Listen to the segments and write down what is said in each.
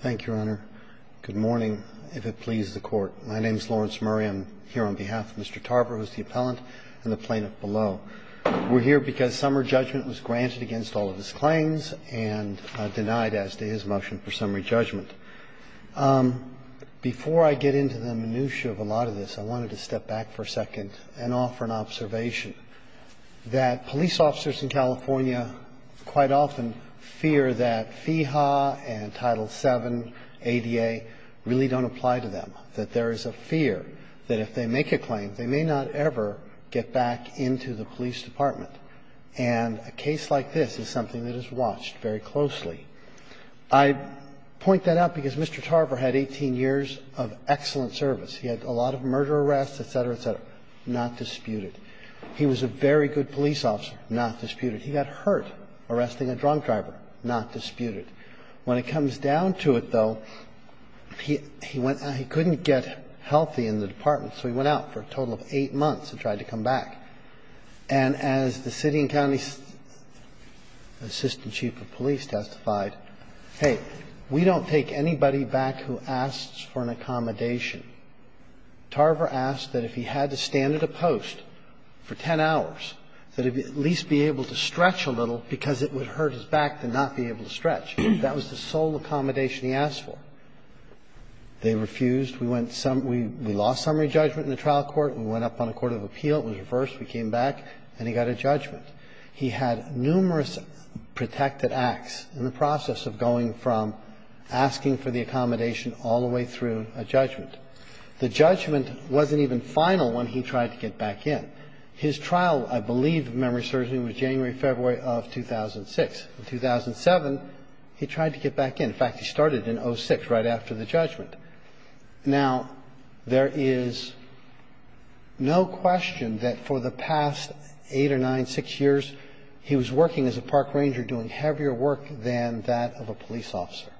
Thank you, Your Honor. Good morning, if it pleases the court. My name is Lawrence Murray. I'm here on behalf of Mr. Tarver, who is the appellant, and the plaintiff below. We're here because summary judgment was granted against all of his claims and denied as to his motion for summary judgment. Before I get into the minutia of a lot of this, I wanted to step back for a second and offer an observation. That police officers in California quite often fear that FEHA and Title VII ADA really don't apply to them. That there is a fear that if they make a claim, they may not ever get back into the police department. And a case like this is something that is watched very closely. I point that out because Mr. Tarver had 18 years of excellent service. He had a lot of murder arrests, et cetera, et cetera. He was a very good officer, not disputed. He was a very good police officer, not disputed. He got hurt arresting a drunk driver, not disputed. When it comes down to it, though, he went – he couldn't get healthy in the department, so he went out for a total of eight months and tried to come back. And as the city and county assistant chief of police testified, hey, we don't take anybody back who asks for an accommodation. Tarver asked that if he had to stand at a post for 10 hours, that he at least be able to stretch a little because it would hurt his back to not be able to stretch. That was the sole accommodation he asked for. They refused. We went – we lost summary judgment in the trial court. We went up on a court of appeal. It was reversed. We came back, and he got a judgment. He had numerous protected acts in the process of going from asking for the accommodation all the way through a judgment. The judgment wasn't even final when he tried to get back in. His trial, I believe, of memory surgery was January, February of 2006. In 2007, he tried to get back in. In fact, he started in 06, right after the judgment. Now, there is no question that for the past eight or nine, six years, he was working as a park ranger doing heavier work than that of a police officer.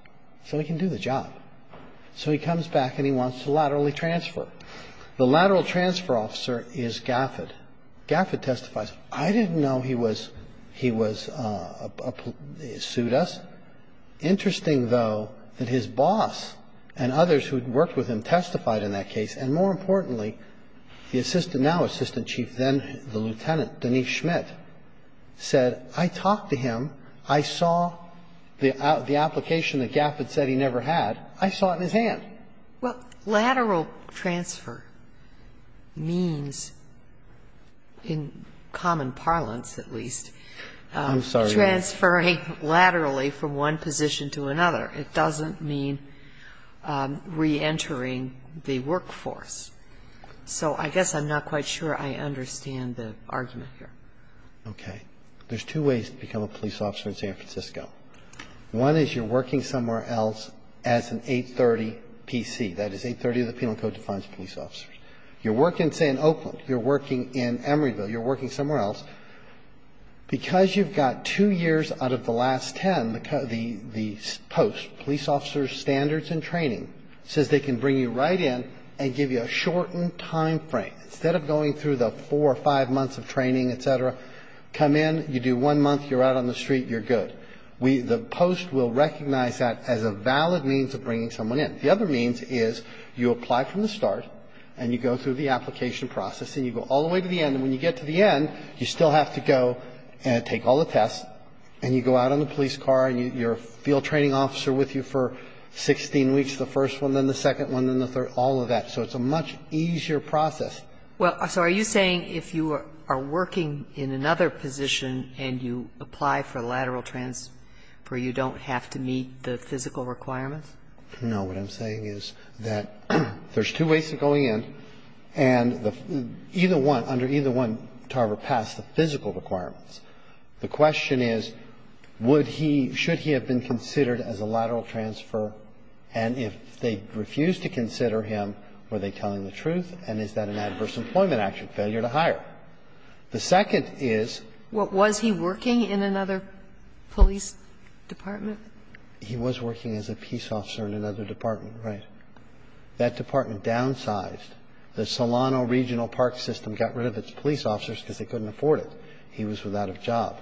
So he can do the job. So he comes back, and he wants to laterally transfer. The lateral transfer officer is Gafford. Gafford testifies, I didn't know he was – he was a – sued us. Interesting, though, that his boss and others who had worked with him testified in that case, and more importantly, the assistant – now assistant chief, then the lieutenant, Denise Schmidt, said, I talked to him. I saw the application that Gafford said he never had. I saw it in his hand. Well, lateral transfer means, in common parlance at least, transferring laterally from one position to another. It doesn't mean reentering the workforce. So I guess I'm not quite sure I understand the argument here. Okay. There's two ways to become a police officer in San Francisco. One is you're working somewhere else as an 830 PC. That is, 830 of the Penal Code defines police officers. You're working, say, in Oakland. You're working in Emeryville. You're working somewhere else. Because you've got two years out of the last ten, the post, police officers' standards and training, says they can bring you right in and give you a shortened time frame. Instead of going through the four or five months of training, et cetera, come in, you do one month, you're out on the street, you're good. We – the post will recognize that as a valid means of bringing someone in. The other means is you apply from the start and you go through the application process and you go all the way to the end. And when you get to the end, you still have to go and take all the tests and you go out on the police car and you're a field training officer with you for 16 weeks, the first one, then the second one, then the third, all of that. So it's a much easier process. Well, so are you saying if you are working in another position and you apply for lateral transfer, you don't have to meet the physical requirements? No. What I'm saying is that there's two ways of going in, and either one, under either one, Tarver passed the physical requirements. The question is, would he – should he have been considered as a lateral transfer and if they refused to consider him, were they telling the truth? And is that an adverse employment action, failure to hire? The second is – What, was he working in another police department? He was working as a peace officer in another department, right. That department downsized. The Solano Regional Park System got rid of its police officers because they couldn't afford it. He was without a job.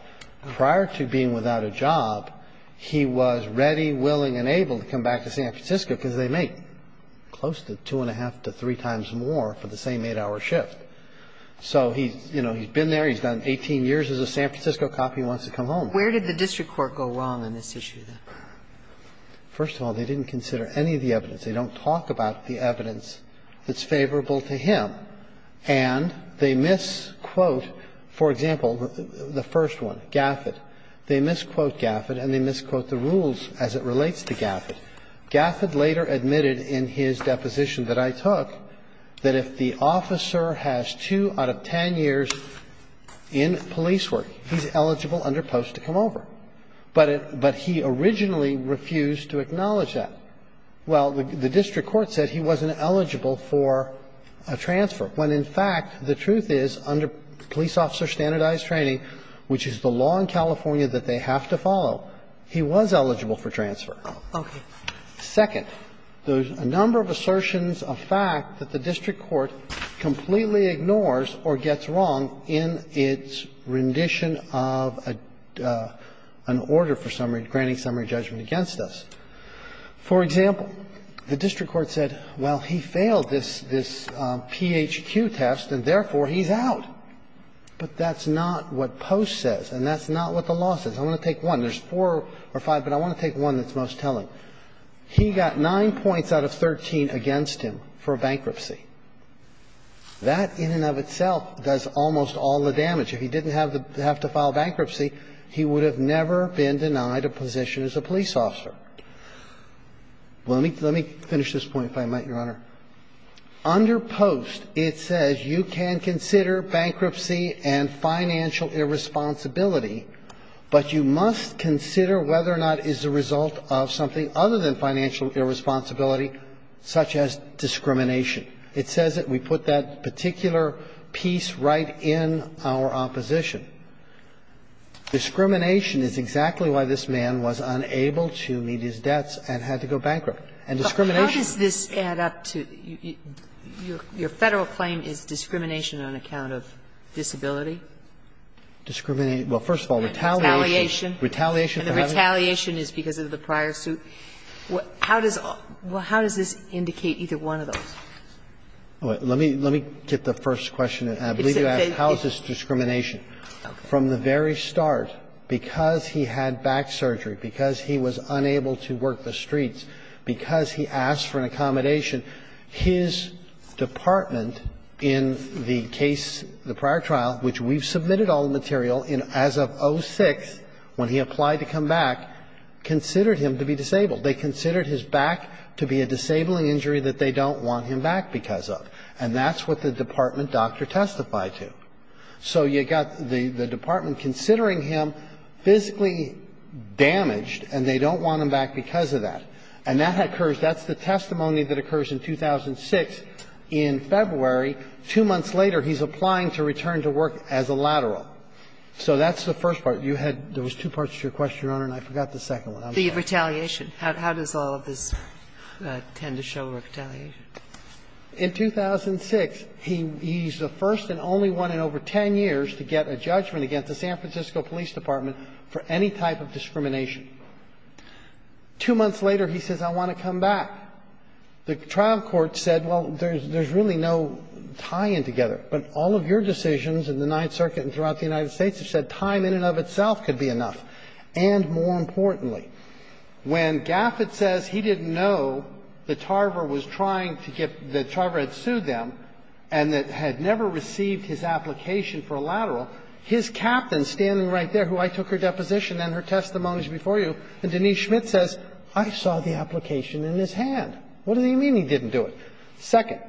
Prior to being without a job, he was ready, willing and able to come back to San Francisco because they make close to two and a half to three times more for the same eight-hour shift. So he's, you know, he's been there. He's done 18 years as a San Francisco cop. He wants to come home. Where did the district court go wrong in this issue, then? First of all, they didn't consider any of the evidence. They don't talk about the evidence that's favorable to him. And they misquote, for example, the first one, Gafford. They misquote Gafford and they misquote the rules as it relates to Gafford. Gafford later admitted in his deposition that I took that if the officer has two out of ten years in police work, he's eligible under post to come over. But it – but he originally refused to acknowledge that. Well, the district court said he wasn't eligible for a transfer, when, in fact, the truth is, under police officer standardized training, which is the law in California that they have to follow, he was eligible for transfer. Second, there's a number of assertions of fact that the district court completely ignores or gets wrong in its rendition of an order for summary, granting summary judgment against us. For example, the district court said, well, he failed this PHQ test and, therefore, he's out. But that's not what Post says and that's not what the law says. I want to take one. There's four or five, but I want to take one that's most telling. He got 9 points out of 13 against him for bankruptcy. That in and of itself does almost all the damage. If he didn't have to file bankruptcy, he would have never been denied a position as a police officer. Let me finish this point, if I might, Your Honor. Under Post, it says you can consider bankruptcy and financial irresponsibility, but you must consider whether or not it is the result of something other than financial irresponsibility, such as discrimination. It says that we put that particular piece right in our opposition. Discrimination is exactly why this man was unable to meet his debts and had to go bankrupt. And discrimination is the reason. But how does this add up to your Federal claim is discrimination on account of disability? Discrimination. Well, first of all, retaliation. Retaliation. Retaliation for having to. And the retaliation is because of the prior suit. How does this indicate either one of those? Let me get the first question. I believe you asked, how is this discrimination? From the very start, because he had back surgery, because he was unable to work the streets, because he asked for an accommodation, his department in the case, the prior trial, which we've submitted all the material in as of 06, when he applied to come back, considered him to be disabled. They considered his back to be a disabling injury that they don't want him back because of. And that's what the department doctor testified to. So you've got the department considering him physically damaged, and they don't want him back because of that. And that occurs, that's the testimony that occurs in 2006 in February. Two months later, he's applying to return to work as a lateral. So that's the first part. You had, there was two parts to your question, Your Honor, and I forgot the second one. The retaliation. How does all of this tend to show retaliation? In 2006, he's the first and only one in over 10 years to get a judgment against the San Francisco Police Department for any type of discrimination. Two months later, he says, I want to come back. The trial court said, well, there's really no tie-in together. But all of your decisions in the Ninth Circuit and throughout the United States have said time in and of itself could be enough. And more importantly, when Gaffett says he didn't know that Tarver was trying to get, that Tarver had sued them and that had never received his application for a lateral, his captain standing right there, who I took her deposition and her testimonies before you, and Denise Schmitt says, I saw the application in his hand. What do you mean he didn't do it? Second.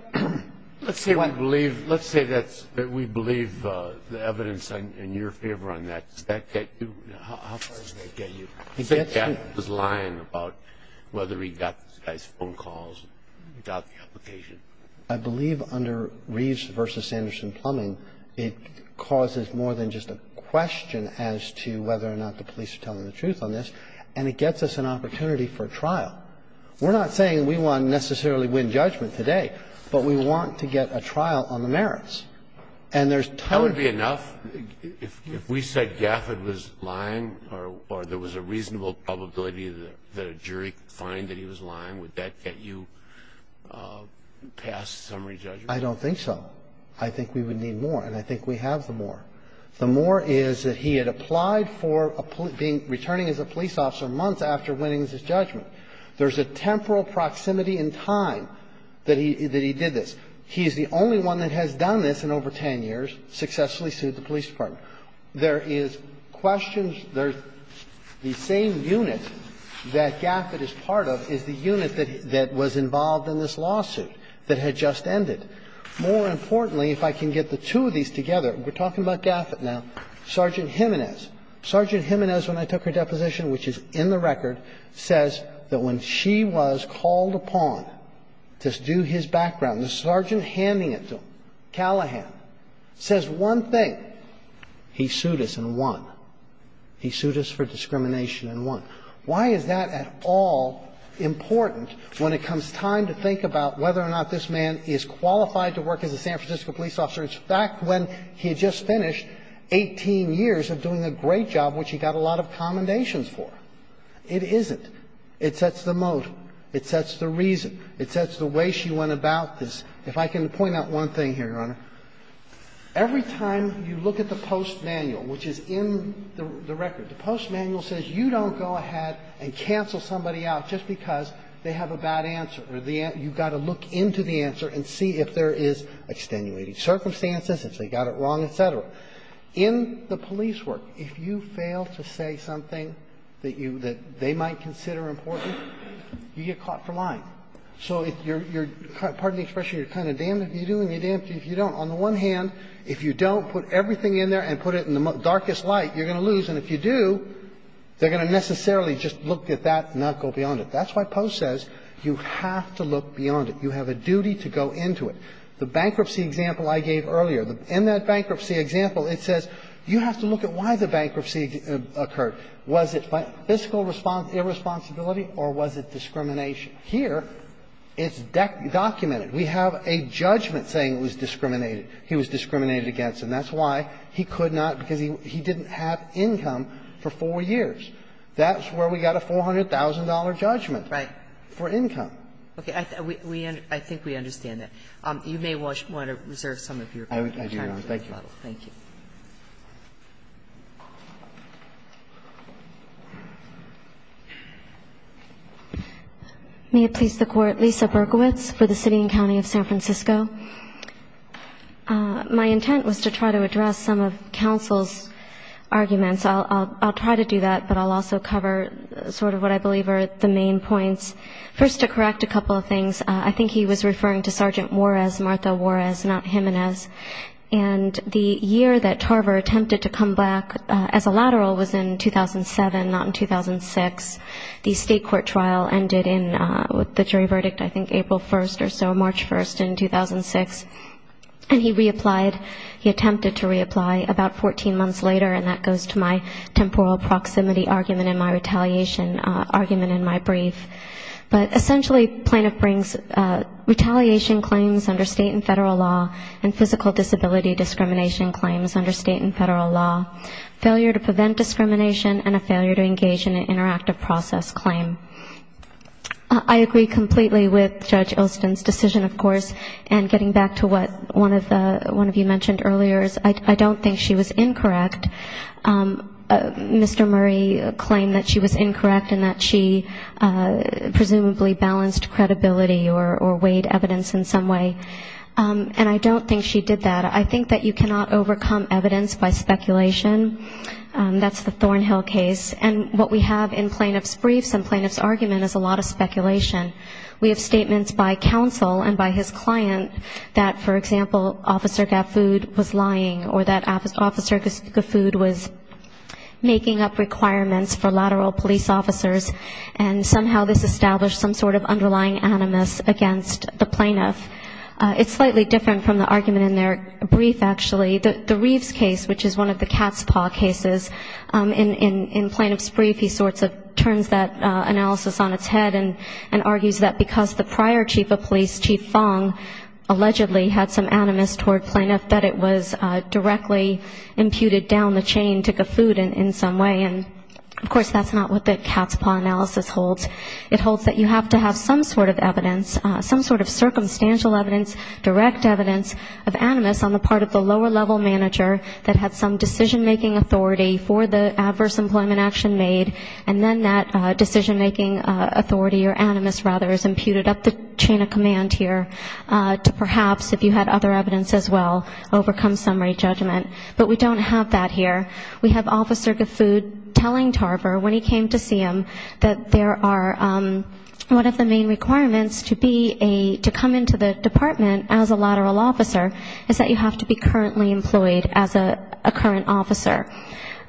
Let's say we believe, let's say that we believe the evidence in your favor on that. Does that get you, how far does that get you? He said Gaffett was lying about whether he got this guy's phone calls, got the application. I believe under Reeves versus Sanderson-Plumbing, it causes more than just a question as to whether or not the police are telling the truth on this. And it gets us an opportunity for trial. We're not saying we want to necessarily win judgment today, but we want to get a trial on the merits. And there's totally be enough. If we said Gaffett was lying or there was a reasonable probability that a jury could find that he was lying, would that get you past summary judgment? I don't think so. I think we would need more, and I think we have the more. The more is that he had applied for being, returning as a police officer months after winning his judgment. There's a temporal proximity in time that he did this. He is the only one that has done this in over 10 years, successfully sued the police department. There is questions. There's the same unit that Gaffett is part of is the unit that was involved in this lawsuit that had just ended. More importantly, if I can get the two of these together, we're talking about Gaffett now, Sergeant Jimenez. Sergeant Jimenez, when I took her deposition, which is in the record, says that when she was called upon to do his background, the sergeant handing it to him, Callahan, says one thing. He sued us and won. He sued us for discrimination and won. Why is that at all important when it comes time to think about whether or not this man is qualified to work as a San Francisco police officer? In fact, when he had just finished 18 years of doing a great job, which he got a lot of commendations for, it isn't. It sets the mode, it sets the reason, it sets the way she went about this. If I can point out one thing here, Your Honor, every time you look at the postmanual, which is in the record, the postmanual says you don't go ahead and cancel somebody out just because they have a bad answer. You've got to look into the answer and see if there is extenuating circumstances, if they got it wrong, et cetera. In the police work, if you fail to say something that you – that they might consider important, you get caught for lying. So if you're – pardon the expression, you're kind of damned if you do and you're damned if you don't. On the one hand, if you don't put everything in there and put it in the darkest light, you're going to lose, and if you do, they're going to necessarily just look at that and not go beyond it. That's why Post says you have to look beyond it. You have a duty to go into it. The bankruptcy example I gave earlier, in that bankruptcy example, it says you have to look at why the bankruptcy occurred. Was it by physical irresponsibility or was it discrimination? Here, it's documented. We have a judgment saying it was discriminated. He was discriminated against, and that's why he could not, because he didn't have income for four years. That's where we got a $400,000 judgment. Right. For income. Okay. I think we understand that. You may want to reserve some of your time for this battle. I do not. Thank you. Thank you. May it please the Court. Lisa Berkowitz for the City and County of San Francisco. My intent was to try to address some of counsel's arguments. I'll try to do that, but I'll also cover sort of what I believe are the main points. First, to correct a couple of things, I think he was referring to Sergeant Juarez, Martha Juarez, not Jimenez. And the year that Tarver attempted to come back as a lateral was in 2007, not in 2006. The state court trial ended in the jury verdict, I think, April 1st or so, March 1st in 2006. And he reapplied. He attempted to reapply about 14 months later, and that goes to my temporal proximity argument and my retaliation argument in my brief. But essentially plaintiff brings retaliation claims under state and federal law and physical disability discrimination claims under state and federal law, failure to prevent discrimination and a failure to engage in an interactive process claim. I agree completely with Judge Ilston's decision, of course, and getting back to what one of you mentioned earlier, I don't think she was incorrect. Mr. Murray claimed that she was incorrect and that she presumably balanced credibility or weighed evidence in some way. And I don't think she did that. I think that you cannot overcome evidence by speculation. That's the Thornhill case. And what we have in plaintiff's briefs and plaintiff's argument is a lot of speculation. We have statements by counsel and by his client that, for example, Officer Gaffood was lying or that Officer Gaffood was making up requirements for lateral police officers, and somehow this established some sort of underlying animus against the plaintiff. It's slightly different from the argument in their brief, actually. The Reeves case, which is one of the cat's paw cases, in plaintiff's brief he sorts of puts that analysis on its head and argues that because the prior chief of police, Chief Fong, allegedly had some animus toward plaintiff that it was directly imputed down the chain to Gaffood in some way, and of course that's not what the cat's paw analysis holds. It holds that you have to have some sort of evidence, some sort of circumstantial evidence, direct evidence of animus on the part of the lower level manager that had some decision-making authority for the adverse employment action made, and then that decision-making authority or animus, rather, is imputed up the chain of command here to perhaps, if you had other evidence as well, overcome summary judgment. But we don't have that here. We have Officer Gaffood telling Tarver, when he came to see him, that there are one of the main requirements to be a to come into the department as a lateral officer is that you have to be currently employed as a current officer.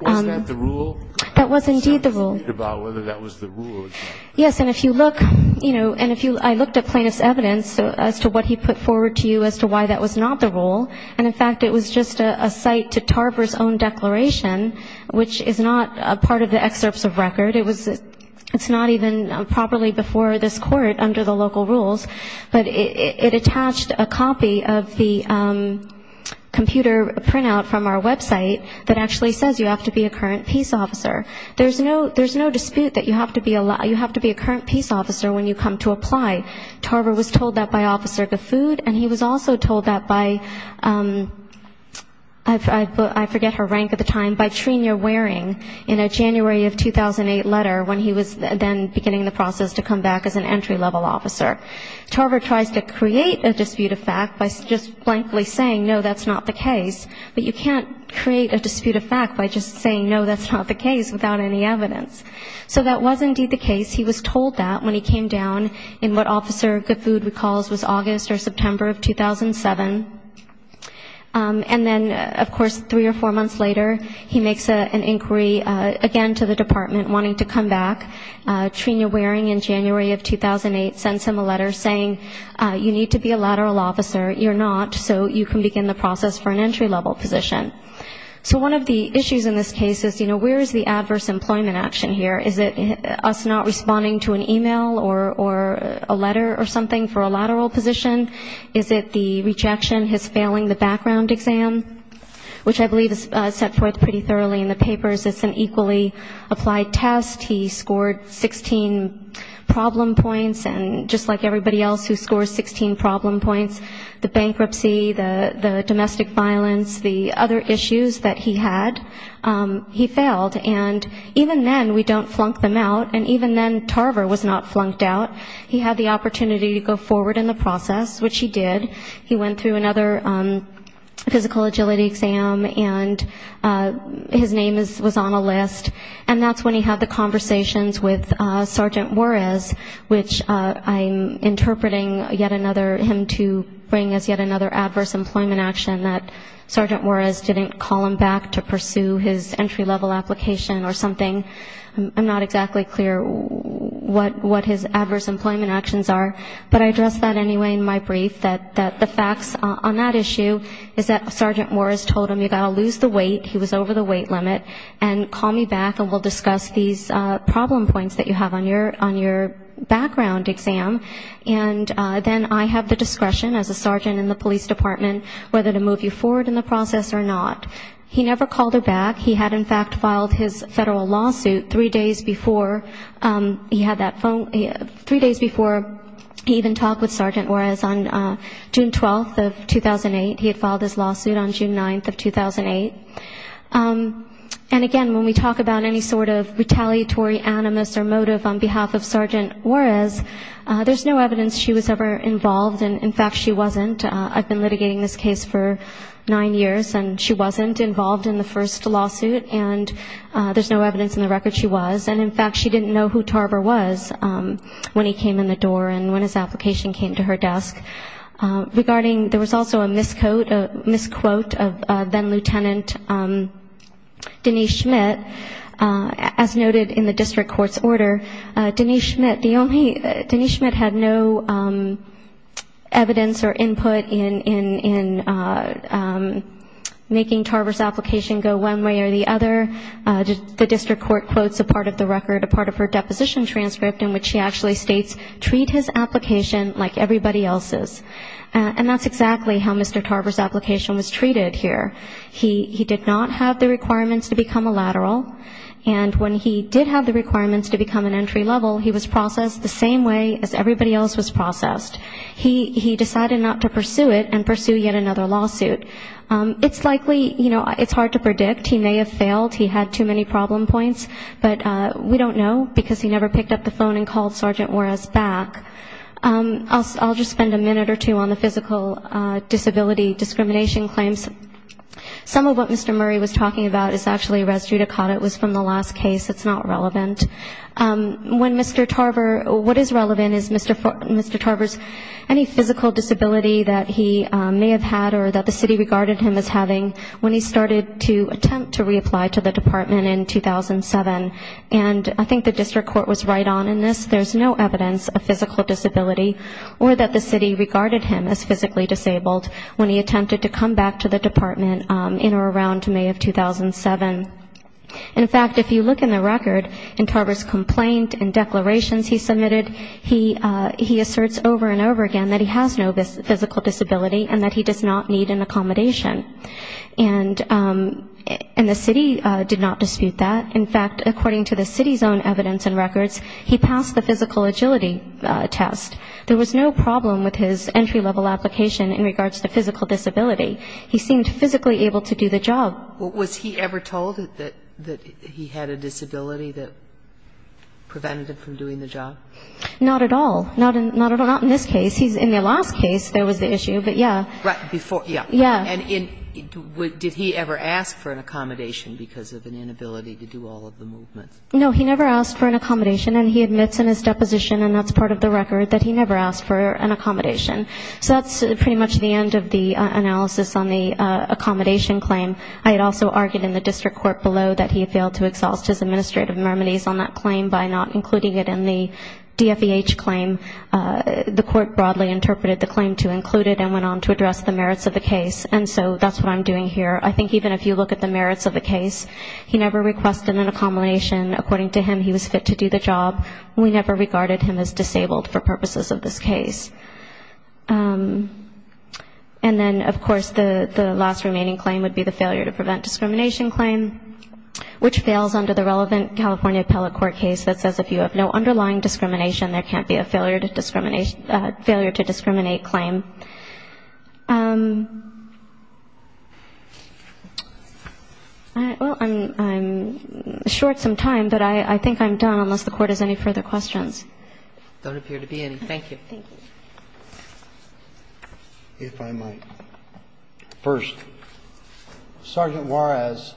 That was indeed the rule. Yes, and if you look, you know, and I looked at plaintiff's evidence as to what he put forward to you as to why that was not the rule, and in fact it was just a cite to Tarver's own declaration, which is not a part of the excerpts of record. It's not even properly before this Court under the local rules, but it attached a copy of the computer printout from our website that actually says you have to be a current peace officer. There's no dispute that you have to be a current peace officer when you come to apply. Tarver was told that by Officer Gaffood, and he was also told that by, I forget her rank at the time, by Trina Waring in a January of 2008 letter when he was then beginning the process to come back as an entry-level officer. Tarver tries to create a dispute of fact by just blankly saying, no, that's not the case. But you can't create a dispute of fact by just saying, no, that's not the case, without any evidence. So that was indeed the case. He was told that when he came down in what Officer Gaffood recalls was August or September of 2007. And then, of course, three or four months later, he makes an inquiry again to the department wanting to come back. Trina Waring in January of 2008 sends him a letter saying, you need to be a lateral officer. You're not, so you can begin the process for an entry-level position. So one of the issues in this case is, you know, where is the adverse employment action here? Is it us not responding to an email or a letter or something for a lateral position? Is it the rejection, his failing the background exam, which I believe is set forth pretty thoroughly in the papers. It's an equally applied test. He scored 16 problem points, and just like everybody else who scores 16 problem points, the bankruptcy, the domestic violence, the other issues that he had, he failed. And even then we don't flunk them out, and even then Tarver was not flunked out. He had the opportunity to go forward in the process, which he did. He went through another physical agility exam, and his name was on a list. And that's when he had the conversations with Sergeant Juarez, which I'm interpreting yet another, him to bring as yet another adverse employment action that Sergeant Juarez didn't call him back to pursue his entry-level application or something, I'm not exactly clear what his adverse employment actions are. But I address that anyway in my brief, that the facts on that issue is that Sergeant Juarez told him you've got to lose the weight, he was over the weight limit, and call me back and we'll discuss these problem points that you have on your background exam. And then I have the discretion as a sergeant in the police department whether to move you forward in the process or not. He never called her back, he had in fact filed his federal lawsuit three days before he had that phone, three days before he even talked with Sergeant Juarez on June 12th of 2008, he had filed his lawsuit on June 9th of 2008. And again, when we talk about any sort of retaliatory animus or motive on behalf of Sergeant Juarez, there's no evidence she was ever involved, and in fact she wasn't. I've been litigating this case for nine years, and she wasn't involved in the first lawsuit, and there's no evidence in the record she was, and in fact she didn't know who Tarver was when he came in the door and when his application came to her desk. Regarding, there was also a misquote of then Lieutenant Denise Schmidt, as noted in the district court's order, Denise Schmidt, the only, Denise Schmidt had no evidence or input in making Tarver's application go one way or the other. The district court quotes a part of the record, a part of her deposition transcript in which she actually states, treat his application like everybody else's. And that's exactly how Mr. Tarver's application was treated here. He did not have the requirements to become a lateral, and when he did have the requirements to become an entry level, he was processed the same way as everybody else was processed. He decided not to pursue it and pursue yet another lawsuit. It's likely, you know, it's hard to predict, he may have failed, he had too many problem points, but we don't know, because he never picked up the phone and called Sergeant Juarez back. I'll just spend a minute or two on the physical disability discrimination claims. Some of what Mr. Murray was talking about is actually res judicata, it was from the last case, it's not relevant. When Mr. Tarver, what is relevant is Mr. Tarver's, any physical disability that he may have had or that the city regarded him as having when he started to attempt to reapply to the department in 2007. And I think the district court was right on in this, there's no evidence of physical disability or that the city regarded him as physically disabled when he attempted to come back to the department in or around May of 2007. In fact, if you look in the record, in Tarver's complaint and declarations he submitted, he asserts over and over again that he has no physical disability and that he does not need an accommodation. And the city did not dispute that. In fact, according to the city's own evidence and records, he passed the physical agility test. There was no problem with his entry-level application in regards to physical disability. He seemed physically able to do the job. Was he ever told that he had a disability that prevented him from doing the job? Not at all. Not in this case. In the last case, there was the issue, but, yeah. Right. Before, yeah. Yeah. And did he ever ask for an accommodation because of an inability to do all of the movements? No, he never asked for an accommodation. And he admits in his deposition, and that's part of the record, that he never asked for an accommodation. So that's pretty much the end of the analysis on the accommodation claim. I had also argued in the district court below that he had failed to exhaust his administrative remedies on that claim by not including it in the DFEH claim. The court broadly interpreted the claim to include it and went on to address the merits of the case. And so that's what I'm doing here. I think even if you look at the merits of the case, he never requested an accommodation. According to him, he was fit to do the job. We never regarded him as disabled for purposes of this case. And then, of course, the last remaining claim would be the failure to prevent discrimination claim, which fails under the relevant California appellate court case that says if you have no underlying discrimination, there can't be a failure to discriminate claim. Well, I'm short some time, but I think I'm done unless the Court has any further questions. There don't appear to be any. Thank you. Thank you. If I might. First, Sergeant Juarez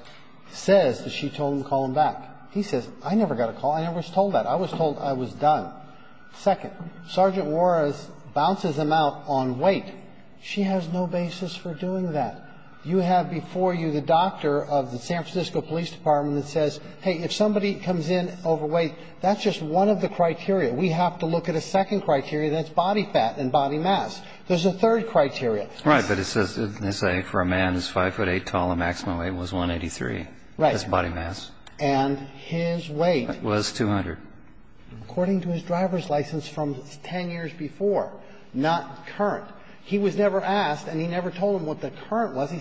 says that she told him to call him back. He says, I never got a call. I never was told that. I was told I was done. Second, Sergeant Juarez bounces him out on weight. She has no basis for doing that. You have before you the doctor of the San Francisco Police Department that says, hey, if somebody comes in overweight, that's just one of the criteria. We have to look at a second criteria that's body fat and body mass. There's a third criteria. Right. But it says for a man who's 5'8 tall, the maximum weight was 183. Right. That's body mass. And his weight. Was 200. According to his driver's license from 10 years before, not current, he was never asked and he never told him what the current was. I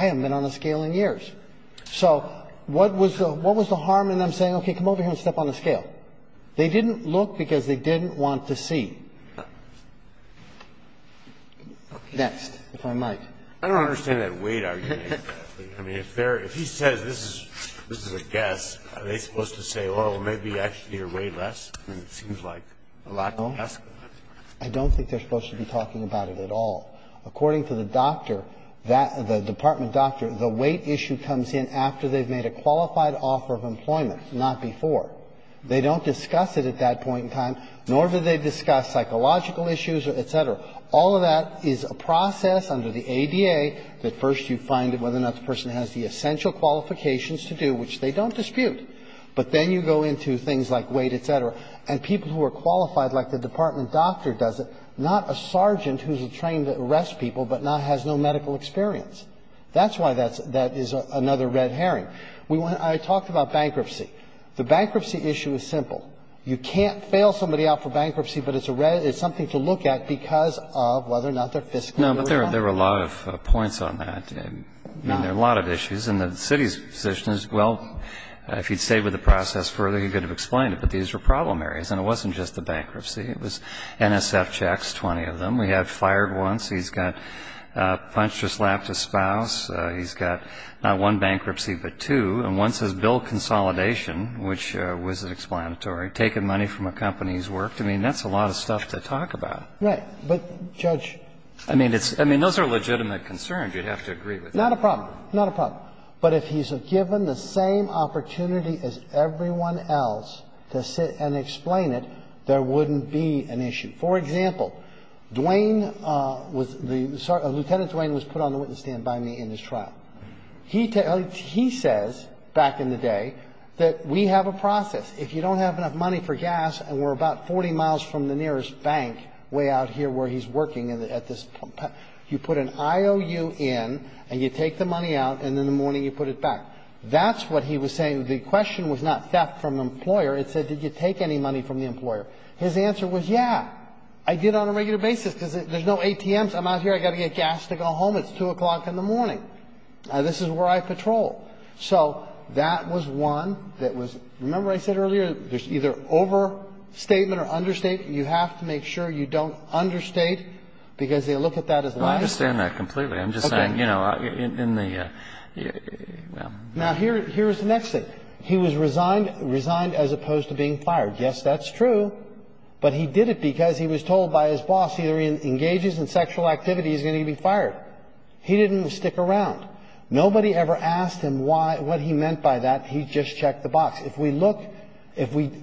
haven't been on a scale in years. So what was the harm in them saying, okay, come over here and step on the scale? They didn't look because they didn't want to see. Next, if I might. I don't understand that weight argument. I mean, if he says this is a guess, are they supposed to say, oh, maybe actually you're way less? I mean, it seems like a lot less. I don't think they're supposed to be talking about it at all. According to the doctor, the department doctor, the weight issue comes in after they've made a qualified offer of employment, not before. They don't discuss it at that point in time, nor do they discuss psychological issues, et cetera. All of that is a process under the ADA that first you find whether or not the person has the essential qualifications to do, which they don't dispute. But then you go into things like weight, et cetera, and people who are qualified like the department doctor does it, not a sergeant who's trained to arrest people but not has no medical experience. That's why that's another red herring. I talked about bankruptcy. The bankruptcy issue is simple. You can't fail somebody out for bankruptcy, but it's something to look at because of whether or not they're fiscally aware. No, but there were a lot of points on that. I mean, there are a lot of issues. And the city's position is, well, if you'd stayed with the process further, you could have explained it, but these are problem areas. And it wasn't just the bankruptcy. It was NSF checks, 20 of them. We had fired once. He's got a punch to slap to spouse. He's got not one bankruptcy but two. And one says bill consolidation, which was explanatory, taking money from a company he's worked. I mean, that's a lot of stuff to talk about. Right. But, Judge ---- I mean, those are legitimate concerns. You'd have to agree with that. Not a problem. Not a problem. But if he's given the same opportunity as everyone else to sit and explain it, there wouldn't be an issue. For example, Dwayne was the ---- Lieutenant Dwayne was put on the witness stand by me in his trial. He says back in the day that we have a process. If you don't have enough money for gas and we're about 40 miles from the nearest bank way out here where he's working at this ---- you put an IOU in and you take the money and you put it back. That's what he was saying. The question was not theft from an employer. It said did you take any money from the employer. His answer was yeah. I did on a regular basis because there's no ATMs. I'm out here. I've got to get gas to go home. It's 2 o'clock in the morning. This is where I patrol. So that was one that was ---- remember I said earlier there's either overstatement or understatement. You have to make sure you don't understate because they look at that as ---- I understand that completely. Okay. But, you know, in the ---- Now here's the next thing. He was resigned as opposed to being fired. Yes, that's true. But he did it because he was told by his boss either he engages in sexual activity he's going to be fired. He didn't stick around. Nobody ever asked him what he meant by that. He just checked the box. If we look, if we ----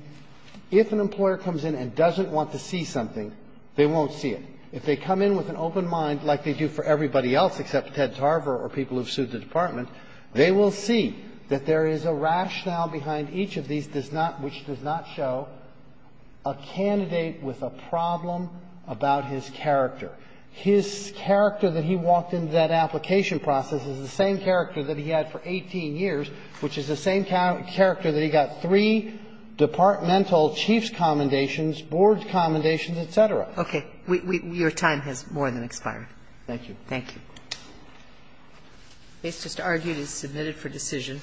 if an employer comes in and doesn't want to see something, they won't see it. If they come in with an open mind like they do for everybody else except Ted Tarver or people who've sued the Department, they will see that there is a rationale behind each of these does not ---- which does not show a candidate with a problem about his character. His character that he walked into that application process is the same character that he had for 18 years, which is the same character that he got three departmental chief's commendations, board's commendations, et cetera. Okay. Your time has more than expired. Thank you. Thank you. The case just argued is submitted for decision.